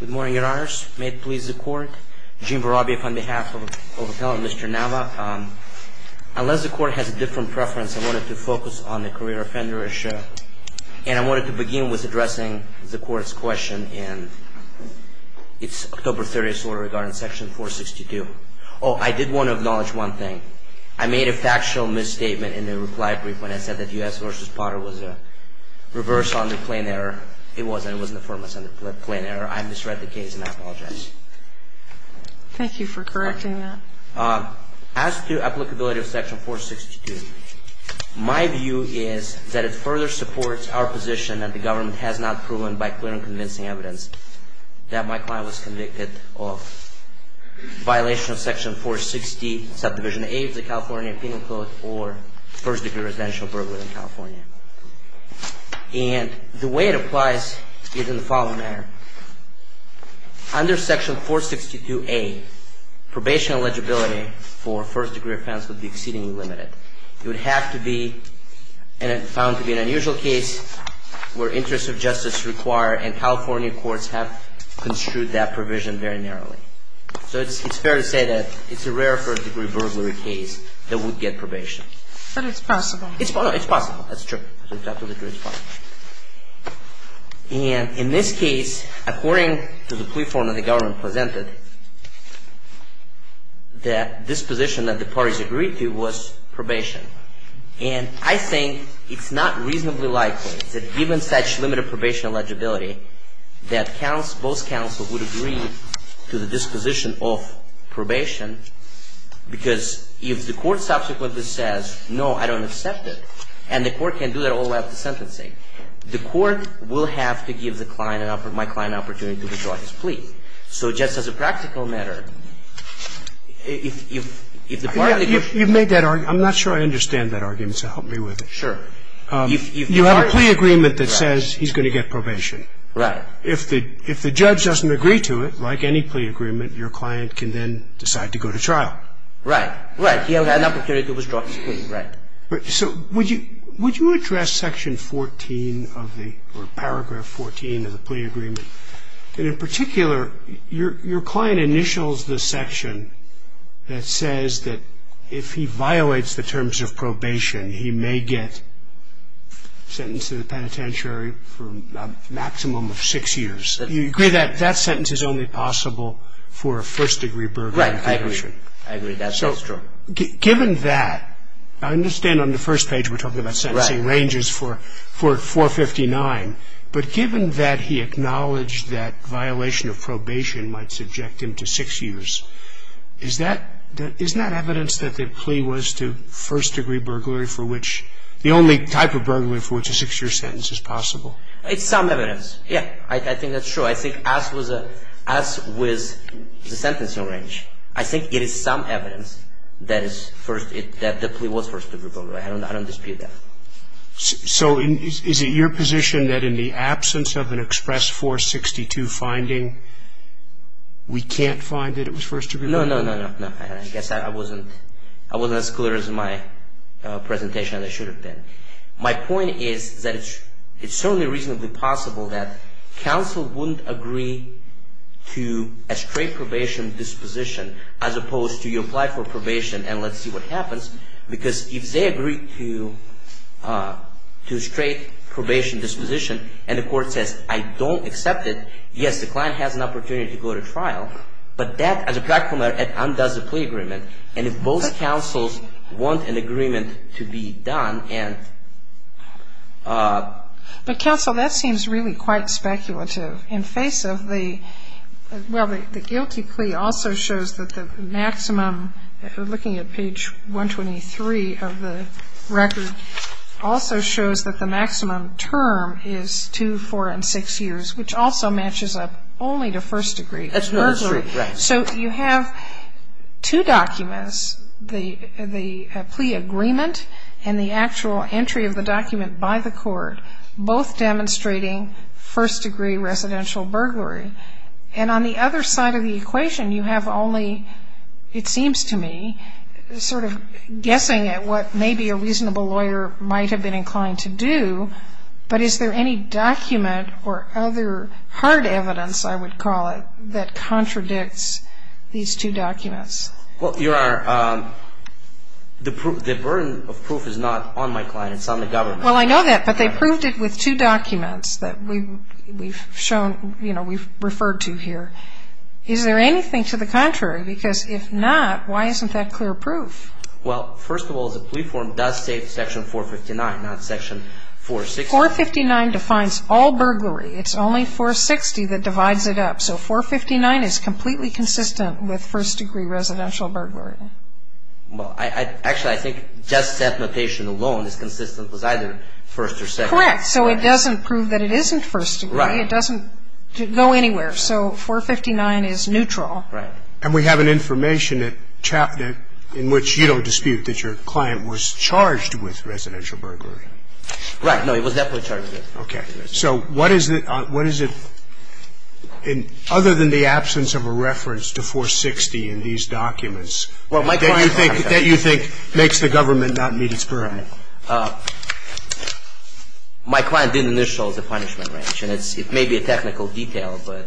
Good morning, your honors. May it please the court, Gene Vorobyev on behalf of Mr. Nava. Unless the court has a different preference, I wanted to focus on the career offender issue. And I wanted to begin with addressing the court's question in its October 30th order regarding section 462. Oh, I did want to acknowledge one thing. I made a factual misstatement in the reply brief when I said that U.S. v. Potter was a reversal under plain error. It wasn't. It was an affirmative under plain error. I misread the case, and I apologize. Thank you for correcting that. As to applicability of section 462, my view is that it further supports our position that the government has not proven by clear and convincing evidence that my client was convicted of violation of section 460, subdivision A of the California Penal Code or first-degree residential burglary in California. And the way it applies is in the following manner. Under section 462A, probation eligibility for first-degree offense would be exceedingly limited. It would have to be found to be an unusual case where interests of justice require, and California courts have construed that provision very narrowly. So it's fair to say that it's a rare first-degree burglary case that would get probation. But it's possible. And in this case, according to the plea form that the government presented, the disposition that the parties agreed to was probation. And I think it's not reasonably likely that given such limited probation eligibility that both counsel would agree to the disposition of probation because if the court subsequently says, no, I don't accept it, and the court can do that all the way up to sentencing, the court will have to give the client, my client an opportunity to withdraw his plea. So just as a practical matter, if the party could... You've made that argument. I'm not sure I understand that argument, so help me with it. Sure. You have a plea agreement that says he's going to get probation. Right. If the judge doesn't agree to it, like any plea agreement, your client can then decide to go to trial. Right. Right. He has an opportunity to withdraw his plea. Right. So would you address Section 14 of the, or Paragraph 14 of the plea agreement? In particular, your client initials the section that says that if he violates the terms of probation, he may get sentenced to the penitentiary for a maximum of six years. Do you agree that that sentence is only possible for a first-degree burglary? Right. I agree. I agree that that's true. So given that, I understand on the first page we're talking about sentencing ranges for 459, but given that he acknowledged that violation of probation might subject him to six years, isn't that evidence that the plea was to first-degree burglary for which, the only type of burglary for which a six-year sentence is possible? It's some evidence. Yeah. I think that's true. So I think as with the sentencing range, I think it is some evidence that the plea was first-degree burglary. I don't dispute that. So is it your position that in the absence of an express 462 finding, we can't find that it was first-degree burglary? No, no, no, no. I guess I wasn't as clear in my presentation as I should have been. My point is that it's certainly reasonably possible that counsel wouldn't agree to a straight probation disposition as opposed to you apply for probation and let's see what happens, because if they agree to a straight probation disposition and the court says, I don't accept it, yes, the client has an opportunity to go to trial, but that, as a practical matter, it undoes the plea agreement. And if both counsels want an agreement to be done and ---- But, counsel, that seems really quite speculative. In face of the guilty plea also shows that the maximum, looking at page 123 of the record, also shows that the maximum term is two, four, and six years, which also matches up only to first-degree burglary. That's not true, right. So you have two documents, the plea agreement and the actual entry of the document by the court, both demonstrating first-degree residential burglary. And on the other side of the equation you have only, it seems to me, sort of guessing at what maybe a reasonable lawyer might have been inclined to do, but is there any document or other hard evidence, I would call it, that contradicts these two documents? Well, your Honor, the burden of proof is not on my client. It's on the government. Well, I know that, but they proved it with two documents that we've shown, you know, we've referred to here. Is there anything to the contrary? Because if not, why isn't that clear proof? Well, first of all, the plea form does state section 459, not section 460. 459 defines all burglary. It's only 460 that divides it up. So 459 is completely consistent with first-degree residential burglary. Well, actually, I think just that notation alone is consistent with either first or second. Correct. So it doesn't prove that it isn't first-degree. Right. It doesn't go anywhere. So 459 is neutral. Right. And we have an information in which you don't dispute that your client was charged with residential burglary. Right. No, he was definitely charged with it. Okay. So what is it other than the absence of a reference to 460 in these documents that you think makes the government not meet its parameters? My client did initial the punishment range, and it may be a technical detail, but,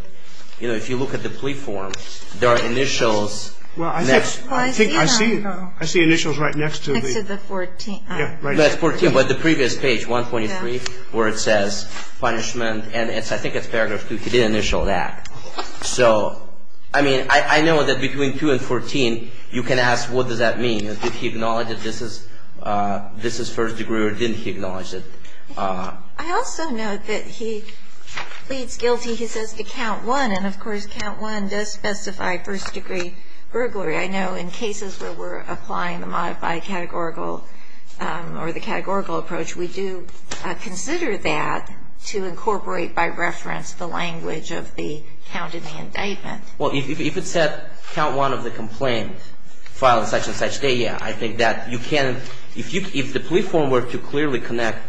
you know, if you look at the plea form, there are initials. Well, I think I see initials right next to the 14. That's 14, but the previous page, 123, where it says punishment, and I think it's paragraph 2. He didn't initial that. So, I mean, I know that between 2 and 14 you can ask what does that mean. Did he acknowledge that this is first-degree or didn't he acknowledge it? I also note that he pleads guilty, he says, to count 1, and, of course, count 1 does specify first-degree burglary. I know in cases where we're applying the modified categorical or the categorical approach, we do consider that to incorporate by reference the language of the count in the indictment. Well, if it said count 1 of the complaint filed on such and such day, yeah, I think that you can, if the plea form were to clearly connect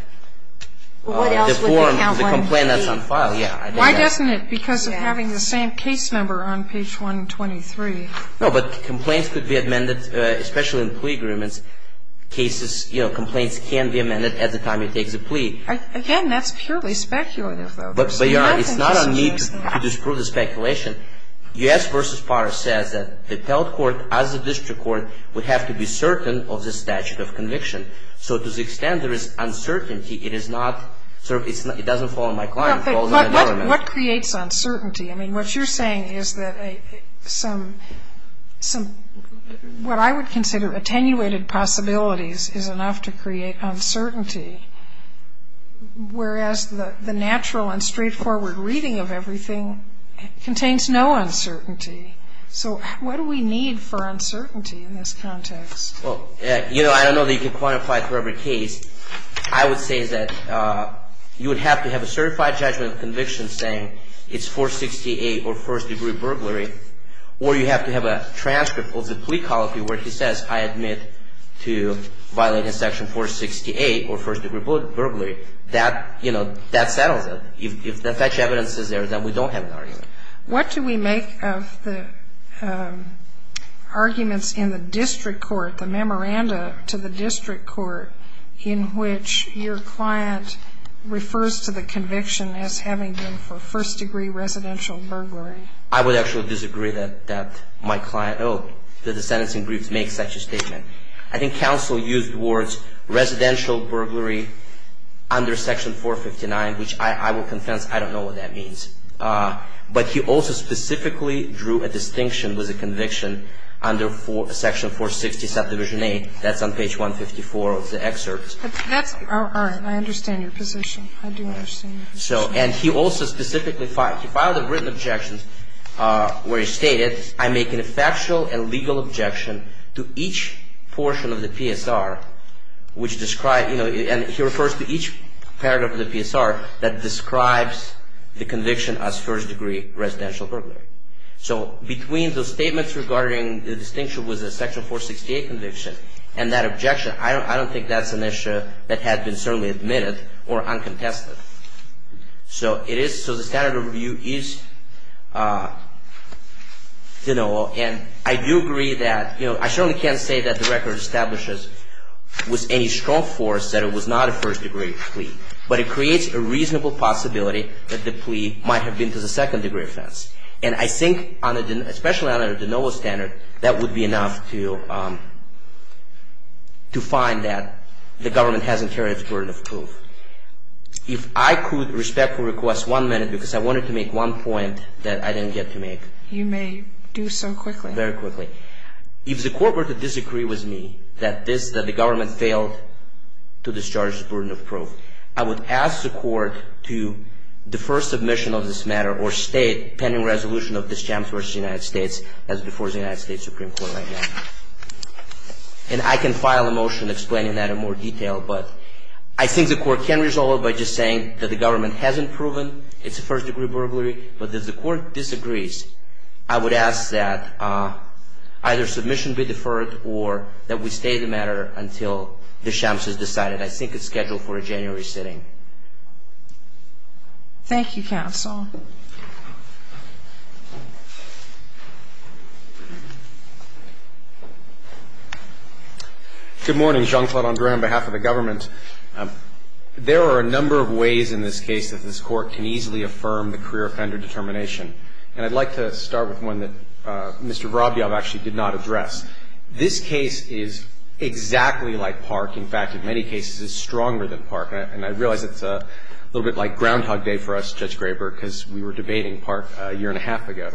the form, the complaint that's on file, yeah. Why doesn't it, because of having the same case number on page 123? No, but complaints could be amended, especially in plea agreements. Cases, you know, complaints can be amended at the time he takes a plea. Again, that's purely speculative, though. But, Your Honor, it's not on me to disprove the speculation. U.S. v. Parr says that the appellate court, as the district court, would have to be certain of the statute of conviction. So to the extent there is uncertainty, it is not, it doesn't fall on my client, it falls on the government. But what creates uncertainty? I mean, what you're saying is that some, what I would consider attenuated possibilities is enough to create uncertainty, whereas the natural and straightforward reading of everything contains no uncertainty. So what do we need for uncertainty in this context? Well, you know, I don't know that you can quantify it for every case. I would say that you would have to have a certified judgment of conviction saying it's 468 or first-degree burglary, or you have to have a transcript of the plea colloquy where he says, I admit to violating section 468 or first-degree burglary. That, you know, that settles it. If the factual evidence is there, then we don't have an argument. What do we make of the arguments in the district court, the memoranda to the district court, in which your client refers to the conviction as having been for first-degree residential burglary? I would actually disagree that my client, that the sentencing briefs make such a statement. I think counsel used words residential burglary under section 459, which I will confess I don't know what that means. But he also specifically drew a distinction with a conviction under section 460, that's on page 154 of the excerpt. All right. I understand your position. I do understand your position. And he also specifically filed a written objection where he stated, I make a factual and legal objection to each portion of the PSR, and he refers to each part of the PSR that describes the conviction as first-degree residential burglary. So between those statements regarding the distinction with the section 468 conviction and that objection, I don't think that's an issue that had been certainly admitted or uncontested. So the standard of review is, you know, and I do agree that, you know, I certainly can't say that the record establishes with any strong force that it was not a first-degree plea. But it creates a reasonable possibility that the plea might have been to the second-degree offense. And I think, especially on a de novo standard, that would be enough to find that the government hasn't carried its burden of proof. If I could respectfully request one minute, because I wanted to make one point that I didn't get to make. You may do so quickly. Very quickly. If the court were to disagree with me that the government failed to discharge its burden of proof, I would ask the court to defer submission of this matter or state pending resolution of Deschamps v. United States as before the United States Supreme Court right now. And I can file a motion explaining that in more detail. But I think the court can resolve it by just saying that the government hasn't proven it's a first-degree burglary. But if the court disagrees, I would ask that either submission be deferred or that we stay the matter until Deschamps is decided. I think it's scheduled for a January sitting. Thank you, counsel. Good morning. Jean-Claude Andre, on behalf of the government. There are a number of ways in this case that this Court can easily affirm the career offender determination. And I'd like to start with one that Mr. Vorobiev actually did not address. This case is exactly like Park. In fact, in many cases, it's stronger than Park. And I realize it's a little bit like Groundhog Day for us, Judge Graber, because we were debating Park a year and a half ago.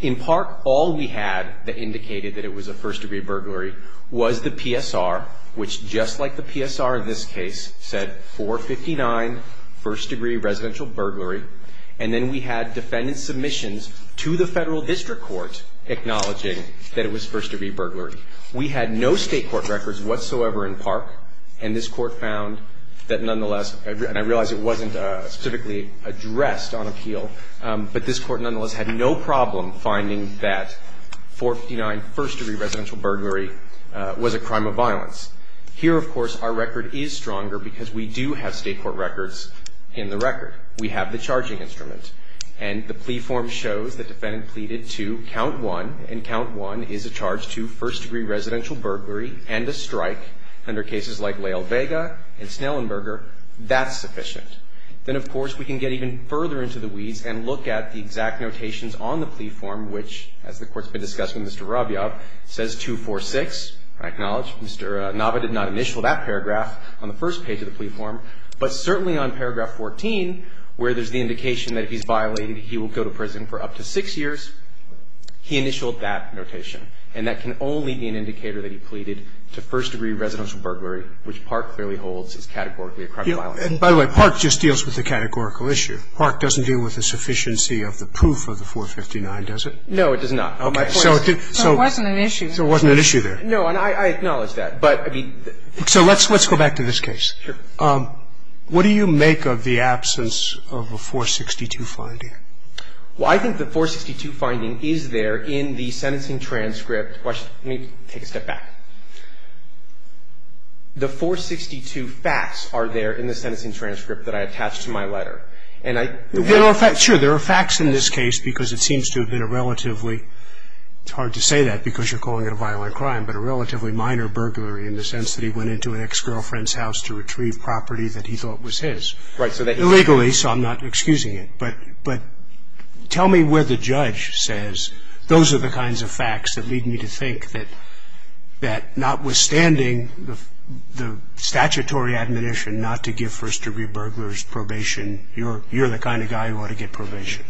In Park, all we had that indicated that it was a first-degree burglary was the PSR, which just like the PSR in this case, said 459, first-degree residential burglary. And then we had defendant submissions to the Federal District Court acknowledging that it was first-degree burglary. We had no state court records whatsoever in Park. And this Court found that nonetheless, and I realize it wasn't specifically addressed on appeal, but this Court nonetheless had no problem finding that 459, first-degree residential burglary was a crime of violence. Here, of course, our record is stronger because we do have state court records in the record. We have the charging instrument. And the plea form shows the defendant pleaded to count one, and count one is a charge to first-degree residential burglary and a strike under cases like Lael Vega and Snellenberger. That's sufficient. Then, of course, we can get even further into the weeds and look at the exact notations on the plea form, which, as the Court's been discussing with Mr. Rabiav, says 246. I acknowledge Mr. Nava did not initial that paragraph on the first page of the plea form. But certainly on paragraph 14, where there's the indication that he's violated, he will go to prison for up to six years. He initialed that notation. And that can only be an indicator that he pleaded to first-degree residential burglary, which Park clearly holds is categorically a crime of violence. And, by the way, Park just deals with the categorical issue. Park doesn't deal with the sufficiency of the proof of the 459, does it? No, it does not. Okay. So it did so. So it wasn't an issue. So it wasn't an issue there. No. And I acknowledge that. But, I mean, the. So let's go back to this case. Sure. What do you make of the absence of a 462 finding? Well, I think the 462 finding is there in the sentencing transcript. Let me take a step back. The 462 facts are there in the sentencing transcript that I attached to my letter. And I. Sure. There are facts in this case because it seems to have been a relatively, it's hard to say that because you're calling it a violent crime, but a relatively minor burglary in the sense that he went into an ex-girlfriend's house to retrieve property that he thought was his. Right. Illegally. Illegally, so I'm not excusing it. But tell me where the judge says those are the kinds of facts that lead me to think that notwithstanding the statutory admonition not to give first degree burglars probation, you're the kind of guy who ought to get probation.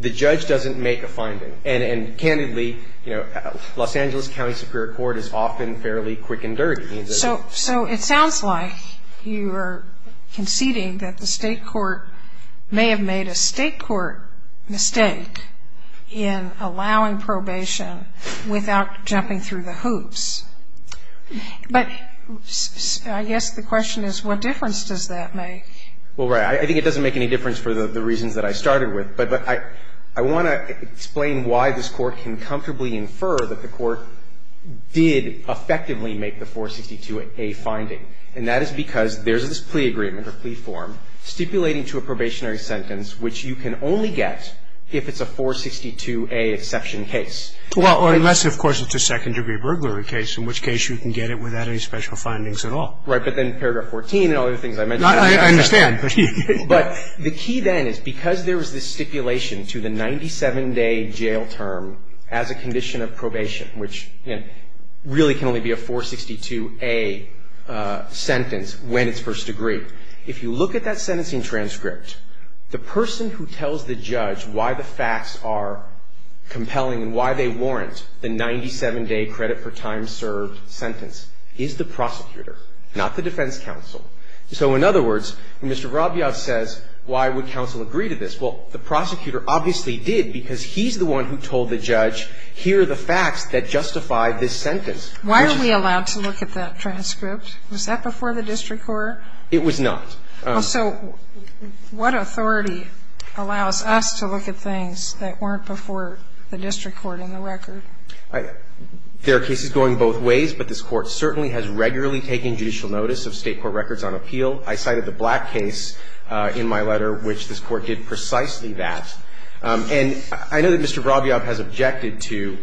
The judge doesn't make a finding. And candidly, you know, Los Angeles County Superior Court is often fairly quick and dirty. So it sounds like you are conceding that the state court may have made a state court mistake in allowing probation without jumping through the hoops. But I guess the question is what difference does that make? Well, right, I think it doesn't make any difference for the reasons that I started with. But I want to explain why this court can comfortably infer that the court did effectively make the 462A finding. And that is because there's this plea agreement or plea form stipulating to a probationary sentence which you can only get if it's a 462A exception case. Well, unless, of course, it's a second degree burglary case, in which case you can get it without any special findings at all. Right. But then paragraph 14 and all the other things I mentioned. I understand. But the key then is because there was this stipulation to the 97-day jail term as a condition of probation, which really can only be a 462A sentence when it's first degree. If you look at that sentencing transcript, the person who tells the judge why the facts are compelling and why they warrant the 97-day credit for time served sentence is the prosecutor, not the defense counsel. So in other words, when Mr. Rabia says why would counsel agree to this, well, the prosecutor obviously did because he's the one who told the judge, here are the facts that justify this sentence. Why are we allowed to look at that transcript? Was that before the district court? It was not. So what authority allows us to look at things that weren't before the district court in the record? There are cases going both ways, but this Court certainly has regularly taken judicial notice of State court records on appeal. I cited the Black case in my letter, which this Court did precisely that. And I know that Mr. Rabia has objected to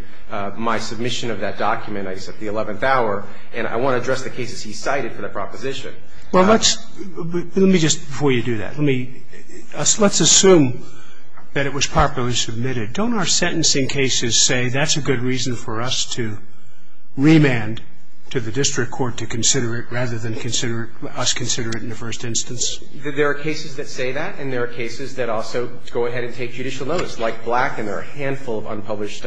my submission of that document. I said the 11th hour, and I want to address the cases he cited for the proposition. Roberts. Let me just, before you do that, let's assume that it was properly submitted. Don't our sentencing cases say that's a good reason for us to remand to the district court to consider it rather than consider it, us consider it in the first instance? There are cases that say that, and there are cases that also go ahead and take judicial notice, like Black, and there are a handful of unpublished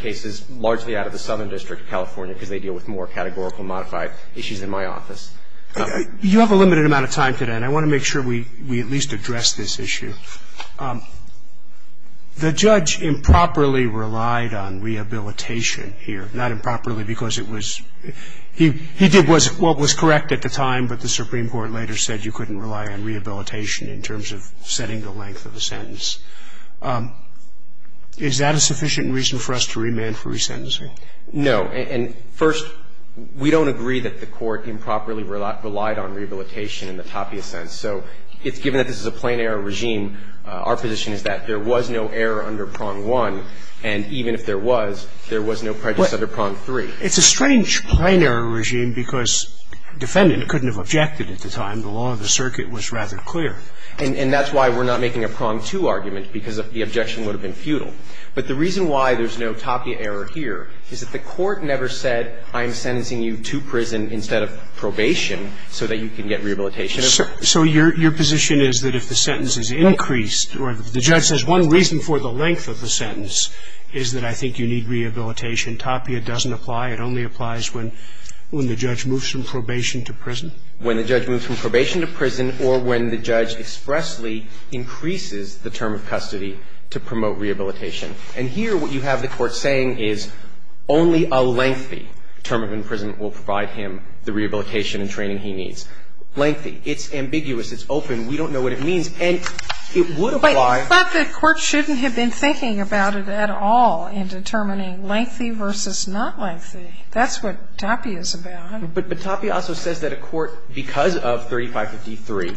cases largely out of the Southern District of California because they deal with more categorical modified issues in my office. You have a limited amount of time today, and I want to make sure we at least address this issue. The judge improperly relied on rehabilitation here, not improperly because it was a plain error regime. He did what was correct at the time, but the Supreme Court later said you couldn't rely on rehabilitation in terms of setting the length of the sentence. Is that a sufficient reason for us to remand for resentencing? No. And first, we don't agree that the Court improperly relied on rehabilitation in the tapia sense. So given that this is a plain error regime, our position is that there was no error under Prong I, and even if there was, there was no prejudice under Prong III. It's a strange plain error regime because defendant couldn't have objected at the time. The law of the circuit was rather clear. And that's why we're not making a Prong II argument, because the objection would have been futile. But the reason why there's no tapia error here is that the Court never said I'm sentencing you to prison instead of probation so that you can get rehabilitation. So your position is that if the sentence is increased or if the judge says one reason for the length of the sentence is that I think you need rehabilitation, tapia doesn't apply. It only applies when the judge moves from probation to prison. When the judge moves from probation to prison or when the judge expressly increases the term of custody to promote rehabilitation. And here what you have the Court saying is only a lengthy term in prison will provide him the rehabilitation and training he needs. Lengthy. It's ambiguous. It's open. We don't know what it means. And it would apply. But the Court shouldn't have been thinking about it at all in determining lengthy versus not lengthy. That's what tapia is about. But tapia also says that a court, because of 3553,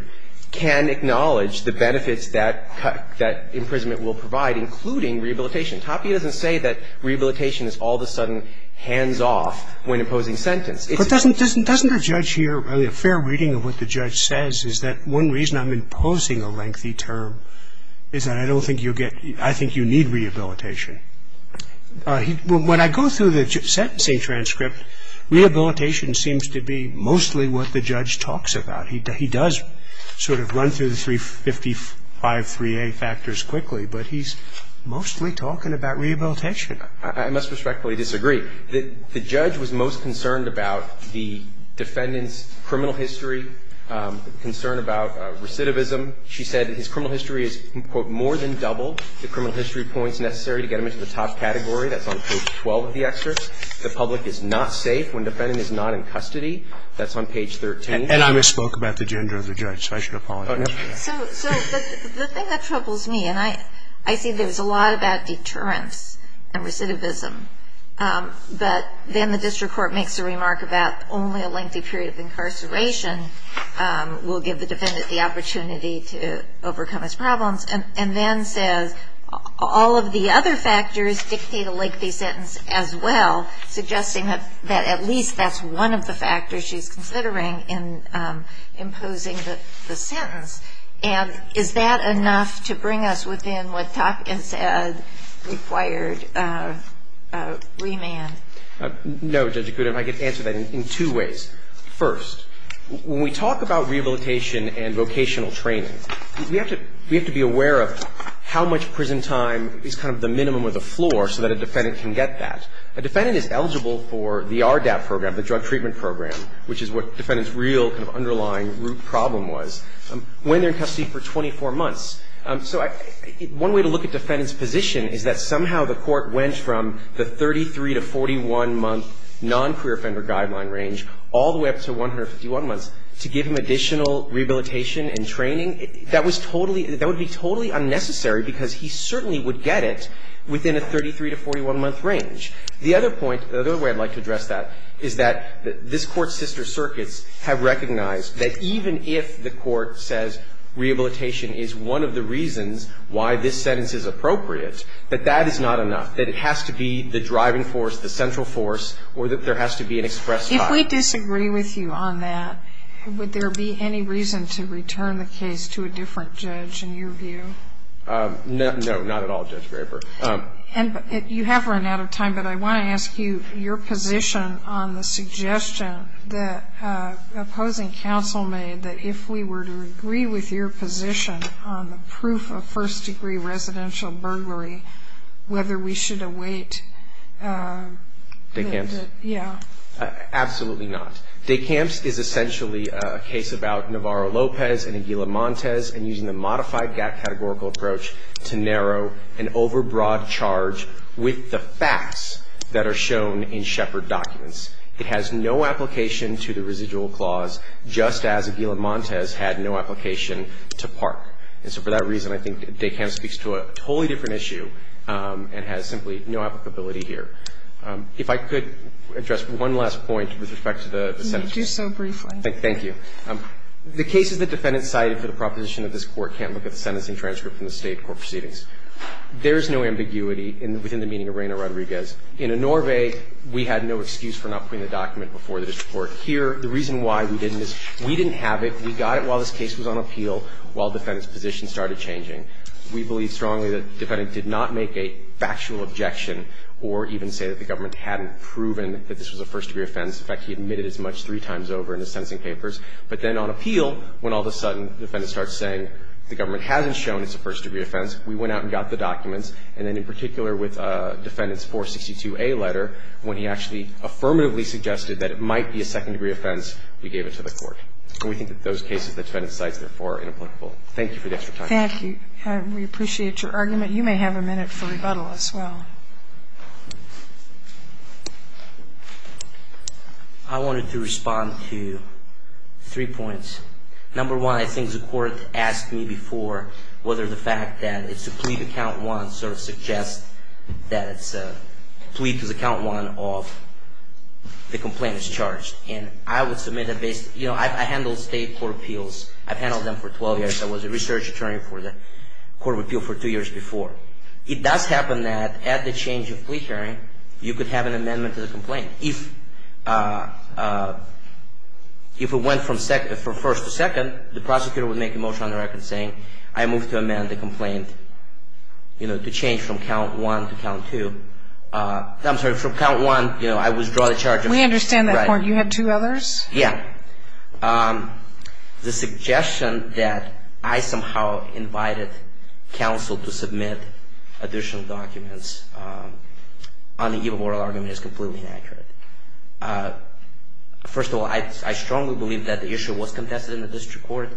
can acknowledge the benefits that imprisonment will provide, including rehabilitation. Tapia doesn't say that rehabilitation is all of a sudden hands off when imposing sentence. But doesn't the judge here, a fair reading of what the judge says, is that one reason I'm imposing a lengthy term is that I don't think you'll get – I think you need rehabilitation? When I go through the sentencing transcript, rehabilitation seems to be mostly what the judge talks about. He does sort of run through the 3553A factors quickly, but he's mostly talking about rehabilitation. I must respectfully disagree. The judge was most concerned about the defendant's criminal history, concerned about recidivism. She said that his criminal history is, quote, more than double the criminal history points necessary to get him into the top category. That's on page 12 of the excerpt. The public is not safe when the defendant is not in custody. That's on page 13. And I misspoke about the gender of the judge, so I should apologize for that. So the thing that troubles me, and I see there's a lot about deterrence and recidivism, but then the district court makes a remark about only a lengthy period of incarceration will give the defendant the opportunity to overcome his problems, and then says all of the other factors dictate a lengthy sentence as well, suggesting that at least that's one of the factors she's considering in imposing the sentence. And is that enough to bring us within what Topkin said required remand? No, Judge Akuda. I can answer that in two ways. First, when we talk about rehabilitation and vocational training, we have to be aware of how much prison time is kind of the minimum of the floor so that a defendant can get that. A defendant is eligible for the RDAP program, the drug treatment program, which is what defendant's real kind of underlying root problem was, when they're in custody for 24 months. So one way to look at defendant's position is that somehow the court went from the 33 to 41-month non-career offender guideline range all the way up to 151 months to give him additional rehabilitation and training. That was totally – that would be totally unnecessary because he certainly would get it within a 33 to 41-month range. The other point – the other way I'd like to address that is that this Court's sister circuits have recognized that even if the court says rehabilitation is one of the reasons why this sentence is appropriate, that that is not enough, that it has to be the driving force, the central force, or that there has to be an express – If we disagree with you on that, would there be any reason to return the case to a different judge in your view? No, not at all, Judge Graber. And you have run out of time, but I want to ask you your position on the suggestion that opposing counsel made that if we were to agree with your position on the proof of first degree residential burglary, whether we should await – Decamps? Yeah. Absolutely not. Decamps is essentially a case about Navarro-Lopez and Aguila-Montes and using the modified gap categorical approach to narrow an overbroad charge with the facts that are shown in Shepard documents. It has no application to the residual clause, just as Aguila-Montes had no application to PARC. And so for that reason, I think Decamps speaks to a totally different issue and has simply no applicability here. If I could address one last point with respect to the sentencing. You may do so briefly. Thank you. The cases that defendants cited for the proposition that this Court can't look at the sentencing transcript from the State court proceedings, there is no ambiguity within the meaning of Reina Rodriguez. In Enorve, we had no excuse for not putting the document before the district court The reason why we didn't is we didn't have it. We got it while this case was on appeal, while defendants' positions started changing. We believe strongly that the defendant did not make a factual objection or even say that the government hadn't proven that this was a first-degree offense. In fact, he admitted as much three times over in his sentencing papers. But then on appeal, when all of a sudden the defendant starts saying the government hasn't shown it's a first-degree offense, we went out and got the documents. And then in particular with defendant's 462A letter, when he actually affirmatively suggested that it might be a second-degree offense, we gave it to the court. And we think that those cases the defendant cites, therefore, are inapplicable. Thank you for the extra time. Thank you. We appreciate your argument. You may have a minute for rebuttal as well. I wanted to respond to three points. Number one, I think the Court asked me before whether the fact that it's a plea to count one sort of suggests that it's a plea to count one of the complaint is charged. And I would submit that based, you know, I handle state court appeals. I've handled them for 12 years. I was a research attorney for the Court of Appeal for two years before. It does happen that at the change of plea hearing, you could have an amendment to the complaint. If it went from first to second, the prosecutor would make a motion on the record saying, I move to amend the complaint, you know, to change from count one to count two. I'm sorry, from count one, you know, I withdraw the charge. We understand that point. You had two others? Yeah. The suggestion that I somehow invited counsel to submit additional documents on the givable oral argument is completely inaccurate. First of all, I strongly believe that the issue was contested in the district court.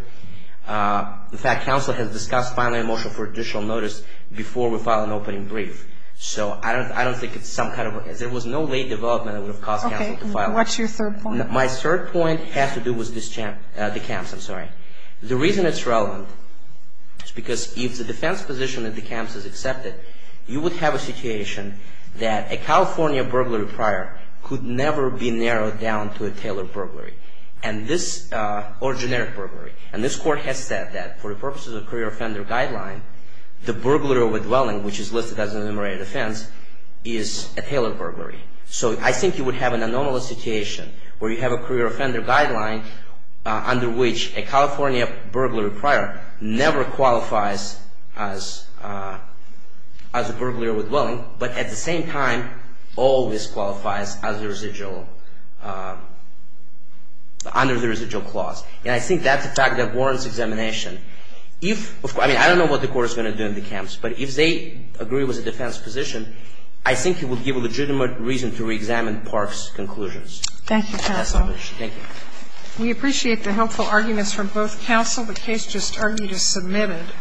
In fact, counsel has discussed filing a motion for additional notice before we file an opening brief. So I don't think it's some kind of a case. There was no late development that would have caused counsel to file it. Okay. What's your third point? My third point has to do with the camps. I'm sorry. The reason it's relevant is because if the defense position at the camps is accepted, you would have a situation that a California burglary prior could never be narrowed down to a Taylor burglary or generic burglary. And this Court has said that for the purposes of the career offender guideline, the So I think you would have an anomalous situation where you have a career offender guideline under which a California burglary prior never qualifies as a burglary or withholding, but at the same time always qualifies under the residual clause. And I think that's a fact that warrants examination. I mean, I don't know what the Court is going to do in the camps, but if they agree with defense position, I think it would give a legitimate reason to reexamine Park's conclusions. Thank you, counsel. Thank you. We appreciate the helpful arguments from both counsel. The case just argued is submitted.